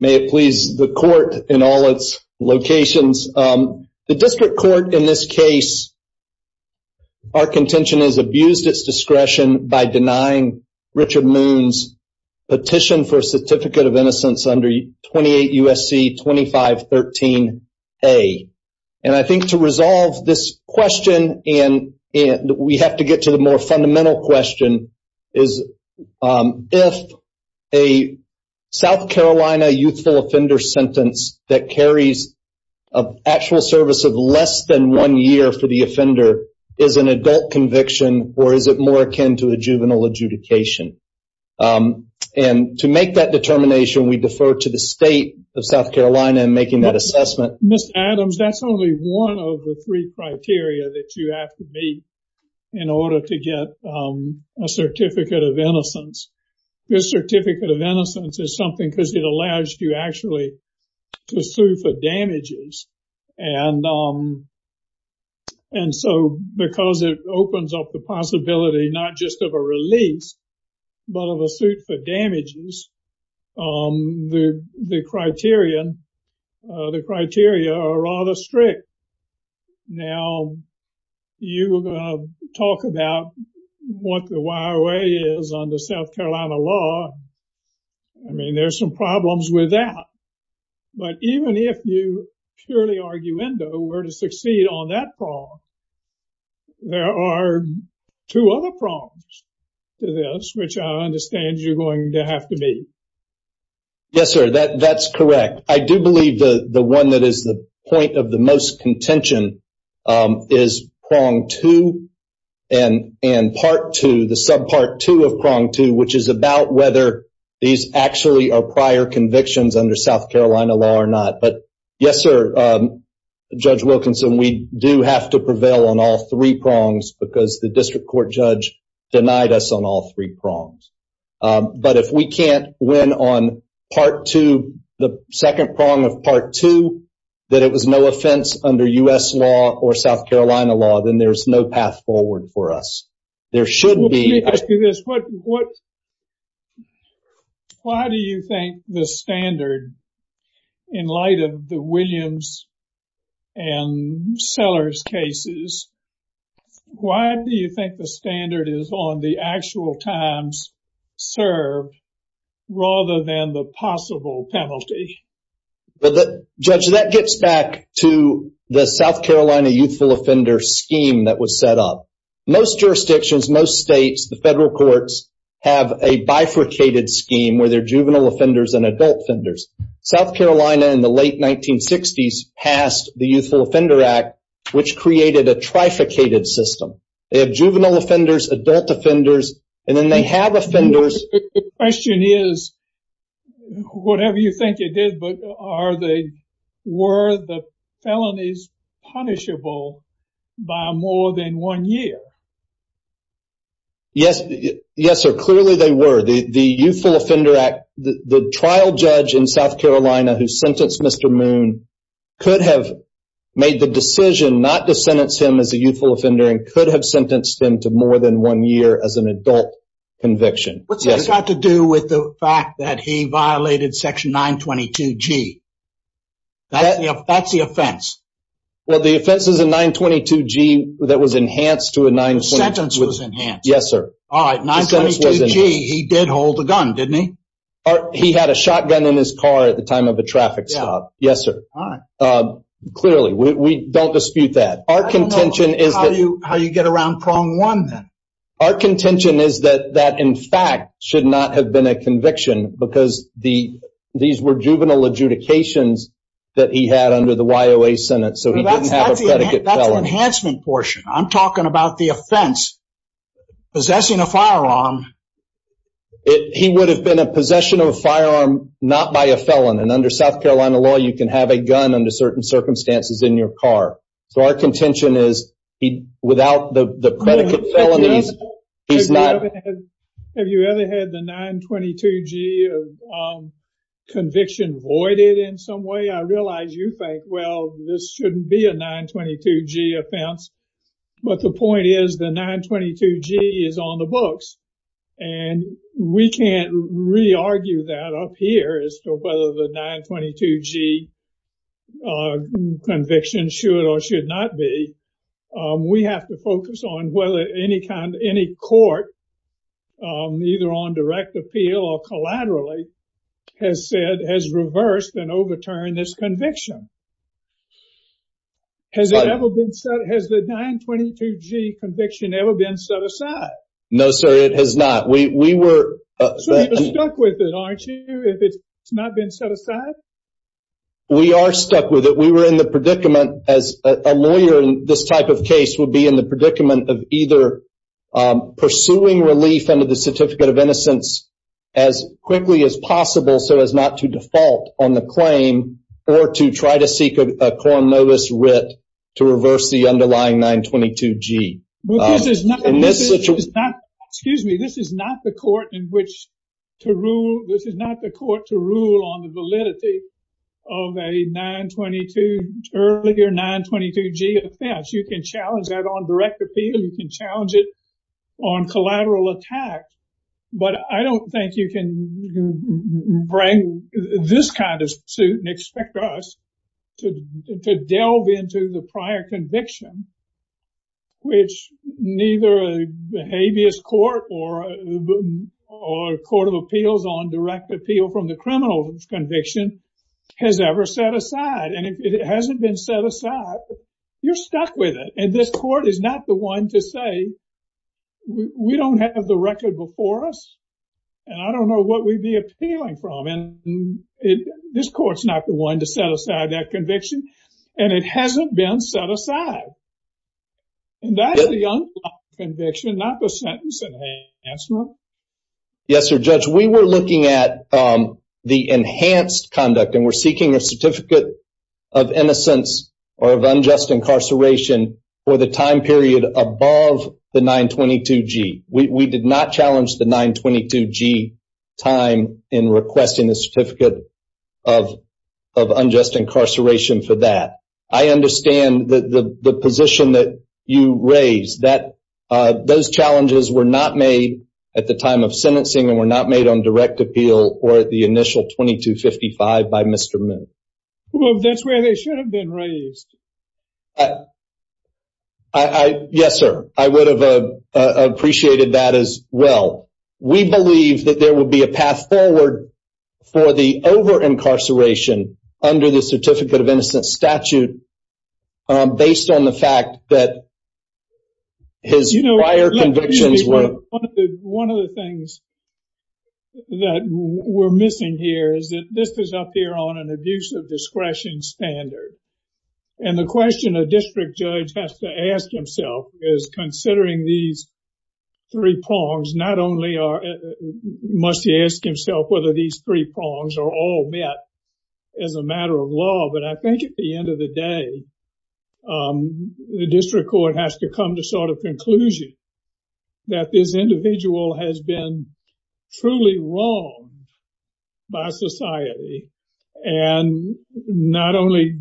May it please the court in all its locations. The district court in this case, our contention, has abused its discretion by denying Richard Moon's petition for a Certificate of Innocence under 28 U.S.C. 2513A. And I think to resolve this question, and we have to get to the more fundamental question, is if a South Carolina youthful offender sentence that carries an actual service of less than one year for the offender is an adult conviction, or is it more akin to a juvenile adjudication? And to make that determination, we defer to the state of South Carolina in making that assessment. Mr. Adams, that's only one of the three criteria that you have to meet in order to get a Certificate of Innocence. This Certificate of Innocence is something because it allows you actually to sue for damages. And so because it opens up the possibility not just of a release, but of a suit for damages, the criteria are rather strict. Now, you talk about what the YRA is under South Carolina law. I mean, there's some problems with that. But even if you purely arguendo were to succeed on that problem, there are two other problems to this, which I understand you're going to have to meet. Yes, sir, that's correct. I do believe the one that is the point of the most contention is prong two and part two, the sub part two of prong two, which is about whether these actually are prior convictions under South Carolina law or not. But yes, sir, Judge Wilkinson, we do have to prevail on all three prongs because the district court judge denied us on all three prongs. But if we can't win on part two, the second prong of part two, that it was no offense under U.S. law or South Carolina law, then there's no path forward for us. There should be. Why do you think the standard in light of the Williams and Sellers cases, why do you think the standard is on the actual times served rather than the possible penalty? Judge, that gets back to the South Carolina youthful offender scheme that was set up. Most jurisdictions, most states, the federal courts have a bifurcated scheme where they're juvenile offenders and adult offenders. South Carolina in the late 1960s passed the Youthful System. They have juvenile offenders, adult offenders, and then they have offenders. The question is, whatever you think it is, were the felonies punishable by more than one year? Yes, yes, sir, clearly they were. The Youthful Offender Act, the trial judge in South Carolina who sentenced Mr. Moon could have made the decision not to sentence him as a youthful offender and could have sentenced him to more than one year as an adult conviction. What's that got to do with the fact that he violated section 922G? That's the offense. Well, the offense is a 922G that was enhanced to a 922G. The sentence was enhanced? Yes, sir. All right, 922G, he did hold a gun, didn't he? He had a shotgun in his car at the time of the traffic stop. Yes, sir. Clearly, we don't dispute that. How do you get around prong one, then? Our contention is that that, in fact, should not have been a conviction because these were juvenile adjudications that he had under the YOA Senate, so he didn't have a predicate felon. That's an enhancement portion. I'm talking about the offense, possessing a firearm. He would have been a possession of a firearm, not by a felon. And under South Carolina law, you can have a gun under certain circumstances in your car. So our contention is without the predicate felonies, he's not... Have you ever had the 922G conviction voided in some way? I realize you think, well, this shouldn't be a 922G offense. But the point is, the 922G is on the books. And we can't re-argue that up here as to whether the 922G conviction should or should not be. We have to focus on whether any court, either on direct appeal or collaterally, has reversed and overturned this conviction. Has the 922G conviction ever been set aside? No, sir, it has not. We were... So you're stuck with it, aren't you, if it's not been set aside? We are stuck with it. We were in the predicament, as a lawyer in this type of case would be in the predicament of either pursuing relief under the certificate of innocence as quickly as possible, so as not to default on the claim, or to try to seek a cor novis writ to reverse the underlying 922G. This is not the court in which to rule. This is not the court to rule on the validity of a 922 earlier 922G offense. You can challenge that on direct appeal. You can challenge it on collateral attack. But I don't think you can bring this kind of suit and expect us to delve into the prior conviction, which neither a habeas court or a court of appeals on direct appeal from the criminal conviction has ever set aside. And if it hasn't been set aside, you're stuck with it. And this court is not the one to say, we don't have the record before us, and I don't know what we'd be appealing from. And this court's not the one to set aside that conviction, and it hasn't been set aside. And that's the unconstitutional conviction, not the sentence enhancement. Yes, sir, Judge, we were looking at the enhanced conduct, and we're seeking a certificate of innocence or of unjust incarceration for the time period above the 922G. We did not challenge the 922G time in requesting a certificate of unjust incarceration for that. I understand the position that you raised, that those challenges were not made at the time of sentencing and were made on direct appeal or at the initial 2255 by Mr. Moon. Well, that's where they should have been raised. Yes, sir, I would have appreciated that as well. We believe that there will be a path forward for the over-incarceration under the certificate of innocence statute based on the that we're missing here is that this is up here on an abuse of discretion standard. And the question a district judge has to ask himself is, considering these three prongs, not only must he ask himself whether these three prongs are all met as a matter of law, but I think at the end of the day, the district court has to come to sort of conclusion that this individual has been truly wronged by society and not only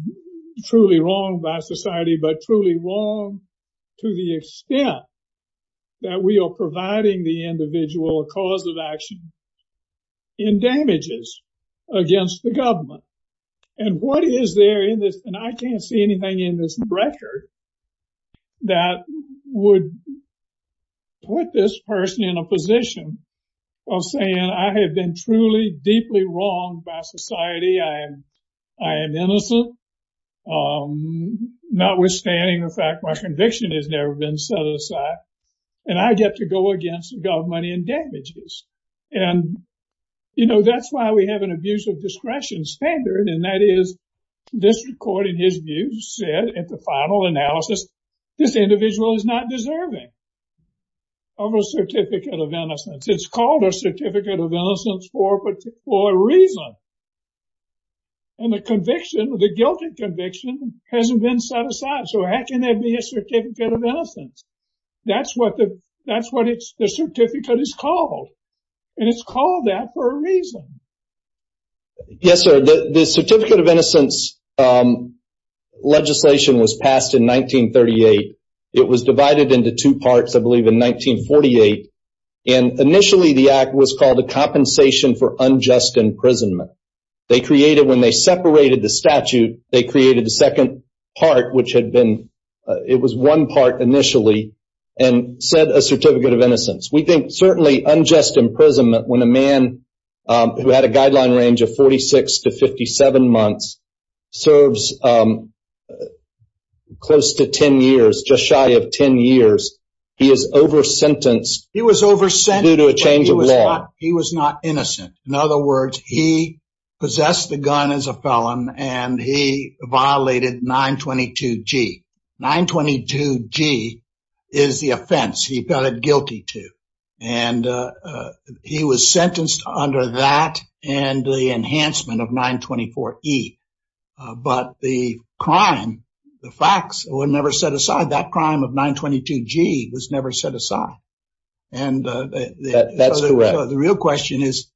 truly wronged by society, but truly wronged to the extent that we are providing the individual a cause of action in damages against the government. And what is there in this, and I can't see anything in this record that would put this person in a position of saying, I have been truly deeply wronged by society. I am innocent, notwithstanding the fact my conviction has never been set aside, and I get to go against the government in damages. And, you know, that's why we have an abuse of analysis. This individual is not deserving of a Certificate of Innocence. It's called a Certificate of Innocence for a reason. And the conviction, the guilty conviction hasn't been set aside. So how can there be a Certificate of Innocence? That's what the Certificate is called. And it's called that for a reason. Yes, sir. The Certificate of Innocence legislation was passed in 1938. It was divided into two parts, I believe, in 1948. And initially, the act was called a Compensation for Unjust Imprisonment. They created, when they separated the statute, they created the second part, which had been, it was one part initially, and said a Certificate of Innocence. We think certainly unjust imprisonment, when a man who had a guideline range of 46 to 57 months, serves close to 10 years, just shy of 10 years, he is over-sentenced. He was over-sentenced. Due to a change of law. He was not innocent. In other words, he possessed the gun as a felon, and he violated 922 G. 922 G is the offense he felt guilty to. And he was sentenced under that, and the enhancement of 924 E. But the crime, the facts were never set aside. That crime of 922 G was never set aside. And the real question is,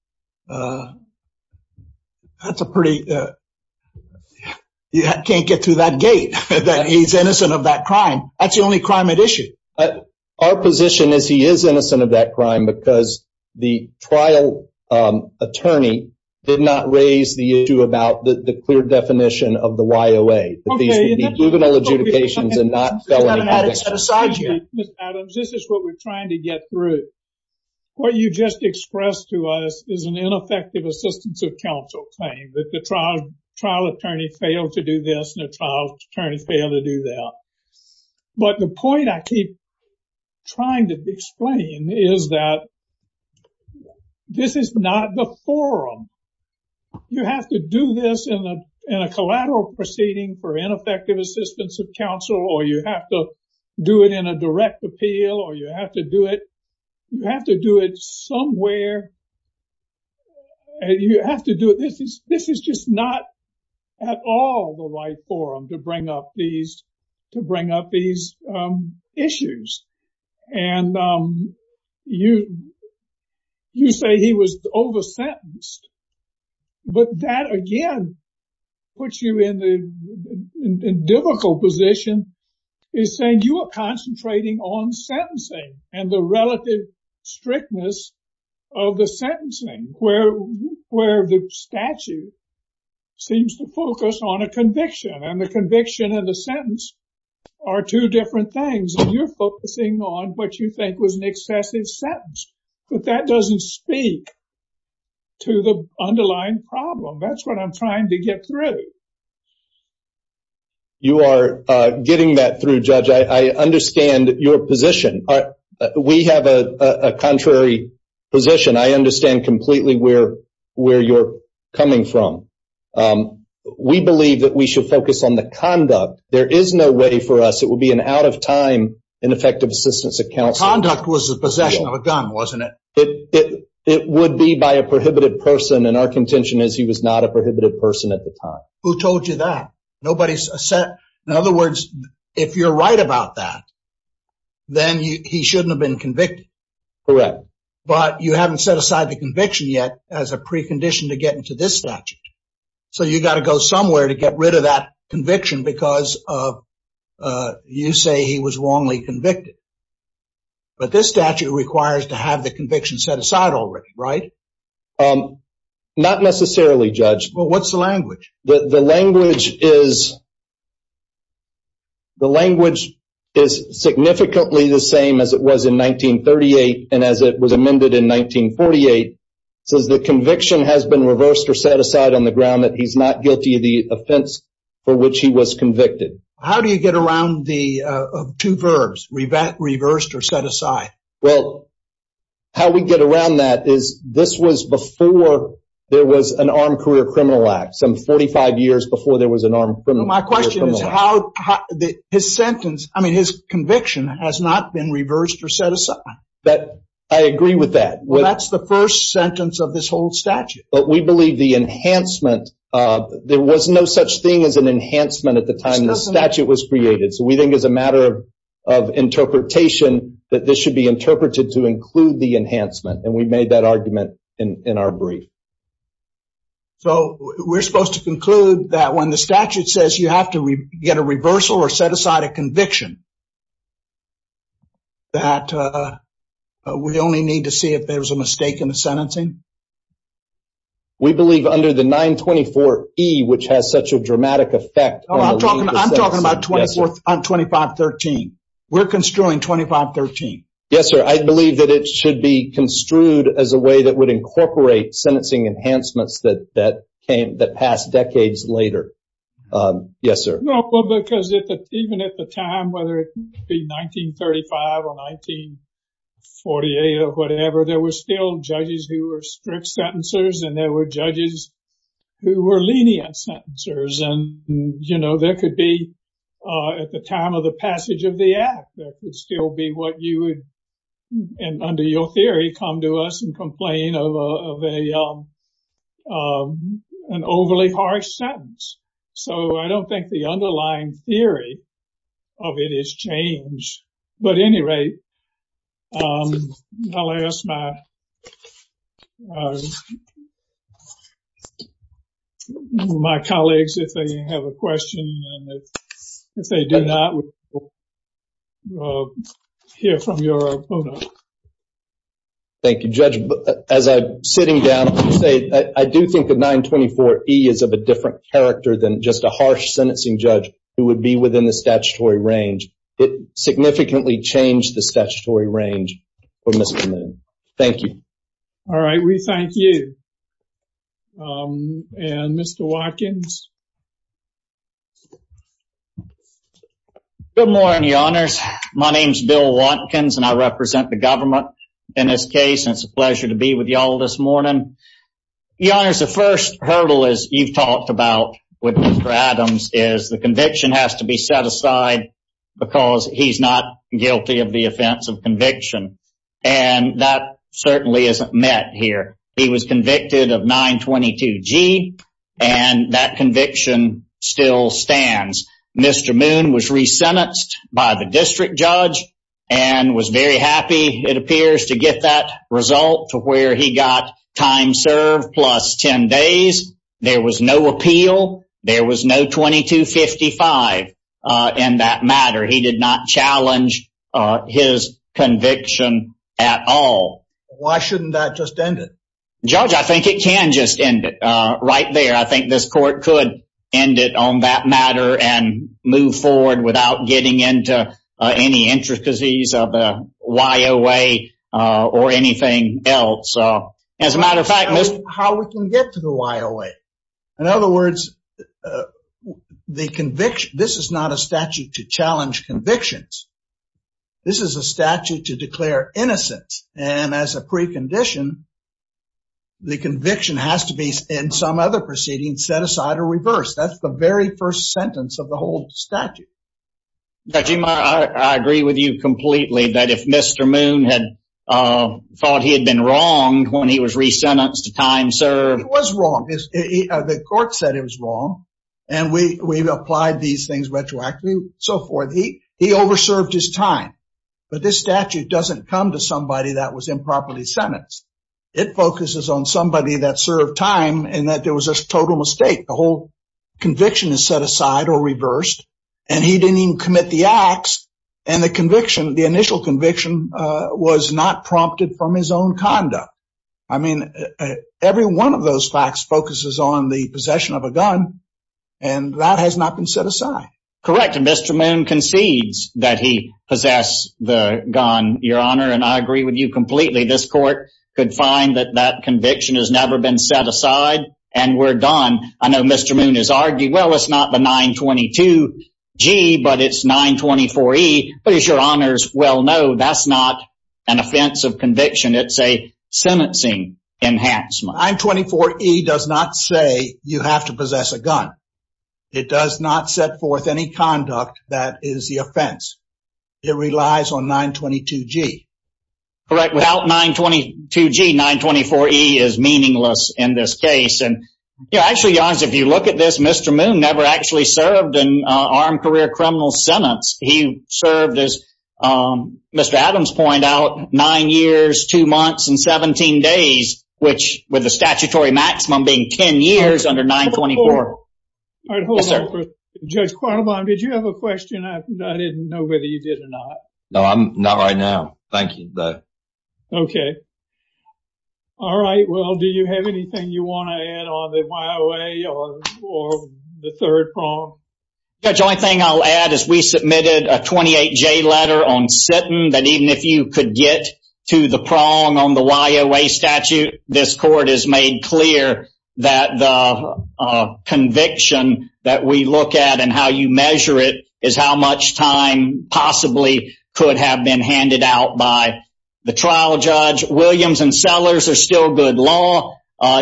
that's a pretty, you can't get through that gate, that he's innocent of that crime. That's the only crime at issue. Our position is he is innocent of that crime, because the trial attorney did not raise the issue about the clear definition of the YOA, that these would be juvenile adjudications and not felony convictions. Mr. Adams, this is what we're trying to get through. What you just expressed to us is an ineffective assistance of counsel claim, that the trial attorney failed to do this, and the trial attorney failed to do that. But the point I keep trying to explain is that this is not the forum. You have to do this in a collateral proceeding for ineffective assistance of counsel, or you have to do it in a direct appeal, or you have to do it somewhere and you have to do it. This is just not at all the right forum to bring up these issues. And you say he was over-sentenced. But that, again, puts you in a difficult position, is saying you are concentrating on sentencing and the relative strictness of the sentencing, where the statute seems to focus on a conviction, and the conviction and the sentence are two different things. You're focusing on what you think was an excessive sentence, but that doesn't speak to the underlying problem. That's what I'm trying to get through. You are getting that through, Judge. I understand your position. We have a contrary position. I understand completely where you're coming from. We believe that we should focus on the conduct. There is no way for us, it would be an out of time, ineffective assistance of counsel. Conduct was the possession of a gun, wasn't it? It would be by a prohibited person, and our contention is he was not a prohibited person at the time. Who told you that? In other words, if you're right about that, then he shouldn't have been convicted. Correct. But you haven't set aside the conviction yet as a precondition to get into this statute. You got to go somewhere to get rid of that conviction because you say he was wrongly convicted. This statute requires to have the conviction set aside already, right? Not necessarily, Judge. What's the language? The language is significantly the same as it was in 1938 and as it was amended in 1948. It says the conviction has been reversed or set aside on the ground that he's not guilty of the offense for which he was convicted. How do you get around the two verbs, reversed or set aside? Well, how we get around that is this was before there was an Armed Career Criminal Act, some 45 years before there was an Armed Criminal Act. My question is, his conviction has not been reversed or set aside? I agree with that. Well, that's the first sentence of this whole statute. But we believe the enhancement, there was no such thing as an enhancement at the time the statute was created. So we think as a matter of interpretation that this should be interpreted to include the enhancement and we made that argument in our brief. So we're supposed to conclude that when the statute says you have to get a reversal or set aside a conviction that we only need to see if there's a mistake in the sentencing? We believe under the 924E, which has such a dramatic effect. Oh, I'm talking about 2513. We're construing 2513. Yes, sir. I believe that it should be construed as a way that would incorporate sentencing enhancements that passed decades later. Yes, sir. Well, because even at the time, whether it be 1935 or 1948 or whatever, there were still judges who were strict sentencers and there were judges who were lenient sentencers. And, you know, there could be at the time of the passage of the act, that would still be what you would, under your theory, come to us and complain of an overly harsh sentence. So I don't think the underlying theory of it is changed. But at any rate, I'll ask my colleagues if they have a question. If they do not, we'll hear from your opponent. Thank you, Judge. As I'm sitting down, I do think the 924E is of a different character than just a harsh sentencing judge who would be within the statutory range. It significantly changed the statutory range for Mr. Moon. Thank you. All right. We thank you. And Mr. Watkins? Good morning, your honors. My name is Bill Watkins and I represent the government in this case. It's a pleasure to be with you all this morning. Your honors, the first hurdle, as you've talked about with Mr. Adams, is the conviction has to be set aside because he's not guilty of the offense of conviction. And that certainly isn't met here. He was convicted of 922G and that conviction still stands. Mr. Moon was resentenced by the district judge and was very happy, it appears, to get that result to where he got time served plus 10 days. There was no appeal. There was no 2255 in that matter. He did not challenge his conviction at all. Why shouldn't that just end it? Judge, I think it can just end it right there. I think this court could end it on that matter and move forward without getting into any intricacies of the YOA or anything else. As a matter of fact, Mr. How we can get to the YOA? In other words, this is not a statute to challenge convictions. This is a statute to declare innocence and as a precondition, the conviction has to be, in some other proceedings, set aside or reversed. That's the very first sentence of the whole statute. Judge, I agree with you completely that if Mr. Moon had thought he had been wronged when he was resentenced to time served. He was wrong. The court said he was wrong and we've applied these things retroactively and so forth. He over-served his time. But this statute doesn't come to somebody that was improperly sentenced. It focuses on somebody that served time and that there was a total mistake. A whole conviction is set aside or reversed and he didn't even commit the acts. And the conviction, the initial conviction, was not prompted from his own conduct. I mean, every one of those facts focuses on the possession of a gun. And that has not been set aside. Correct. And Mr. Moon concedes that he possessed the gun, Your Honor. And I agree with you completely. This court could find that that conviction has never been set aside and we're done. I know Mr. Moon has argued, well, it's not the 922-G, but it's 924-E. But as Your Honors well know, that's not an offense of conviction. It's a sentencing enhancement. 924-E does not say you have to possess a gun. It does not set forth any conduct that is the offense. It relies on 922-G. Correct. Without 922-G, 924-E is meaningless in this case. Actually, Your Honors, if you look at this, Mr. Moon never actually served an armed career criminal sentence. He served, as Mr. Adams pointed out, 9 years, 2 months, and 17 days, which with the statutory maximum being 10 years under 924. All right, hold on. Judge Quattlebaum, did you have a question? I didn't know whether you did or not. No, not right now. Thank you. Okay. All right. Will, do you have anything you want to add on the YOA or the third prong? Judge, the only thing I'll add is we submitted a 28-J letter on Sitton, that even if you could get to the prong on the YOA statute, this court has made clear that the conviction that we look at and how you measure it is how much time possibly could have been handed out by the trial judge. Williams and Sellers are still good law.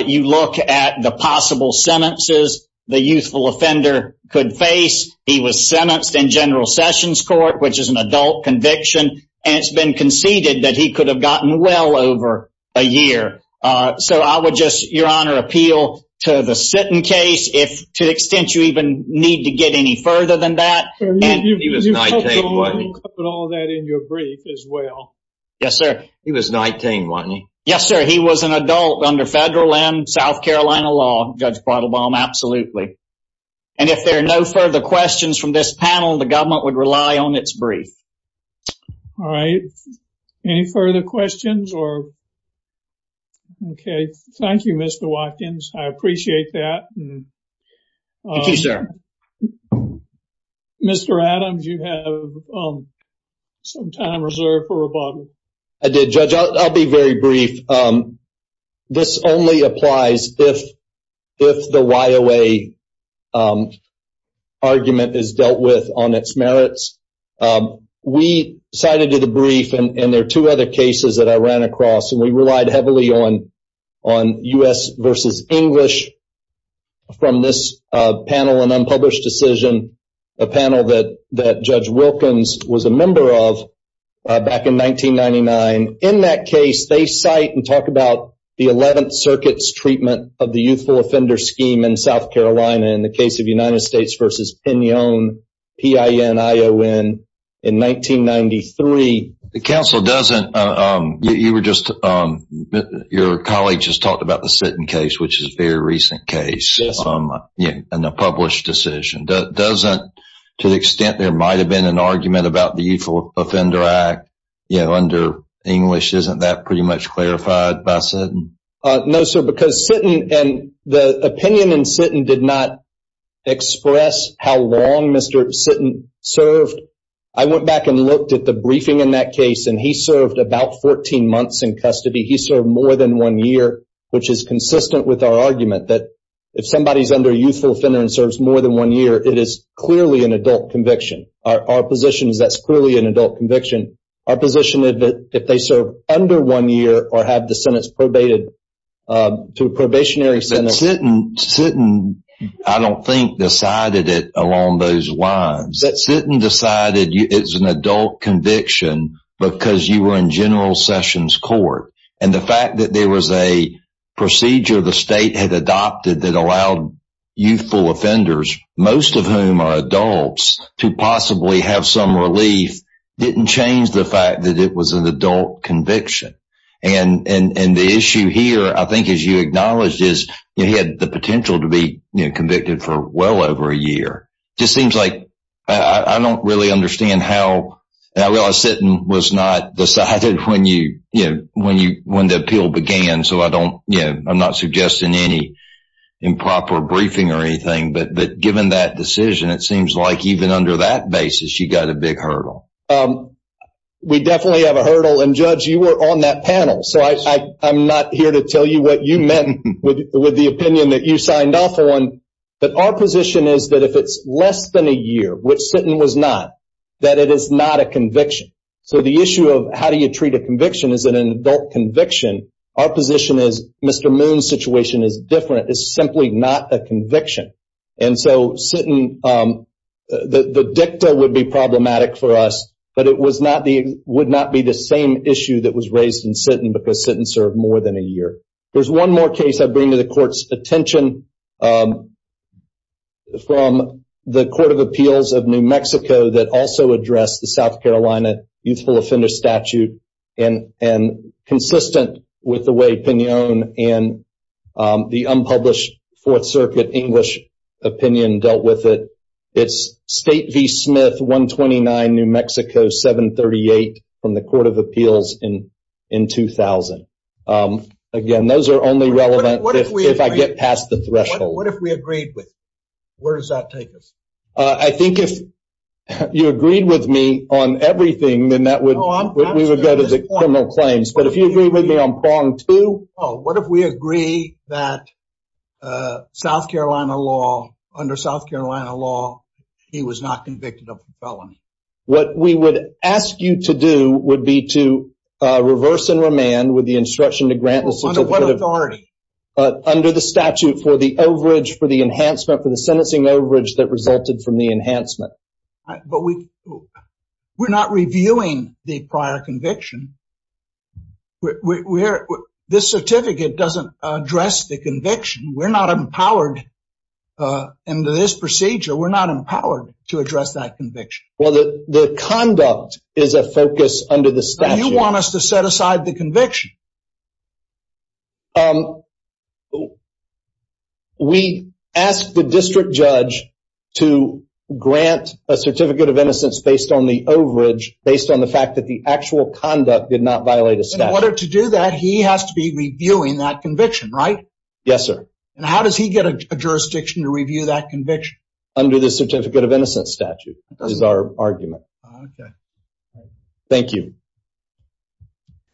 You look at the possible sentences the youthful offender could face. He was sentenced in General Sessions Court, which is an adult conviction, and it's been conceded that he could have gotten well over a year. So I would just, Your Honor, appeal to the Sitton case, if to the extent you even need to get any further than that. Sir, you covered all that in your brief as well. Yes, sir. He was 19, wasn't he? Yes, sir. He was an adult under federal and South Carolina law, Judge Brattlebaum, absolutely. And if there are no further questions from this panel, the government would rely on its brief. All right. Any further questions? Okay. Thank you, Mr. Watkins. I appreciate that. Thank you, sir. Mr. Adams, you have some time reserved for rebuttal. I did, Judge. I'll be very brief. This only applies if the YOA argument is dealt with on its merits. We cited to the brief, and there are two other cases that I ran across, and we relied heavily on U.S. versus English from this panel, an unpublished decision, a panel that Judge Wilkins was a member of back in 1999. In that case, they cite and talk about the 11th Circuit's treatment of the youthful offender scheme in South Carolina in the case of United States versus PINION, P-I-N-I-O-N, in 1993. The counsel doesn't, you were just, your colleague just talked about the Sitton case, which is a very recent case, and a published decision. Doesn't, to the extent there might have been an argument about the Youthful Offender Act, you know, under English, isn't that pretty much clarified by Sitton? No, sir, because Sitton, and the opinion in Sitton did not express how long Mr. Sitton served. I went back and looked at the briefing in that case, and he served about 14 months in custody. He served more than one year, which is consistent with our argument that if somebody's under a youthful offender and serves more than one year, it is clearly an adult conviction. Our position is that's clearly an adult conviction. Our position is that if they serve under one year, or have the sentence probated to a probationary sentence. Sitton, I don't think, decided it along those lines. Sitton decided it's an adult conviction because you were in General Sessions Court, and the fact that there was a procedure the state had adopted that allowed youthful offenders, most of whom are adults, to possibly have some relief, didn't change the fact that it was an adult conviction. And the issue here, I think, as you acknowledged, is he had the potential to be convicted for well over a year. It just seems like, I don't really understand how, and I realize Sitton was not decided when the appeal began, so I'm not suggesting any improper briefing or anything, but given that decision, it seems like even under that basis, you got a big hurdle. We definitely have a hurdle, and Judge, you were on that panel, so I'm not here to tell you what you meant with the opinion that you signed off on. But our position is that if it's less than a year, which Sitton was not, that it is not a conviction. So the issue of how do you treat a conviction is that an adult conviction, our position is Mr. Moon's situation is different. It's simply not a conviction. And so Sitton, the dicta would be problematic for us, but it would not be the same issue that was raised in Sitton because Sitton served more than a year. There's one more case I bring to the Court's attention from the Court of Appeals of New Mexico that also addressed the South Carolina Youthful Offender Statute and consistent with the way Pinon and the unpublished Fourth Circuit English opinion dealt with it. It's State v. Smith, 129, New Mexico, 738, from the Court of Appeals in 2000. Again, those are only relevant if I get past the threshold. What if we agreed with? Where does that take us? I think if you agreed with me on everything, then we would go to the criminal claims. But if you agree with me on prong two... Oh, what if we agree that South Carolina law, under South Carolina law, he was not convicted of a felony? What we would ask you to do would be to reverse and remand with the instruction to grant the certificate... Under what authority? Under the statute for the overage for the enhancement for the sentencing overage that resulted from the enhancement. But we're not reviewing the prior conviction. This certificate doesn't address the conviction. We're not empowered into this procedure. We're not empowered to address that conviction. Well, the conduct is a focus under the statute. You want us to set aside the conviction? We ask the district judge to grant a certificate of innocence based on the overage, based on the fact that the actual conduct did not violate a statute. In order to do that, he has to be reviewing that conviction, right? Yes, sir. And how does he get a jurisdiction to review that conviction? Under the certificate of innocence statute is our argument. Thank you. Thank you.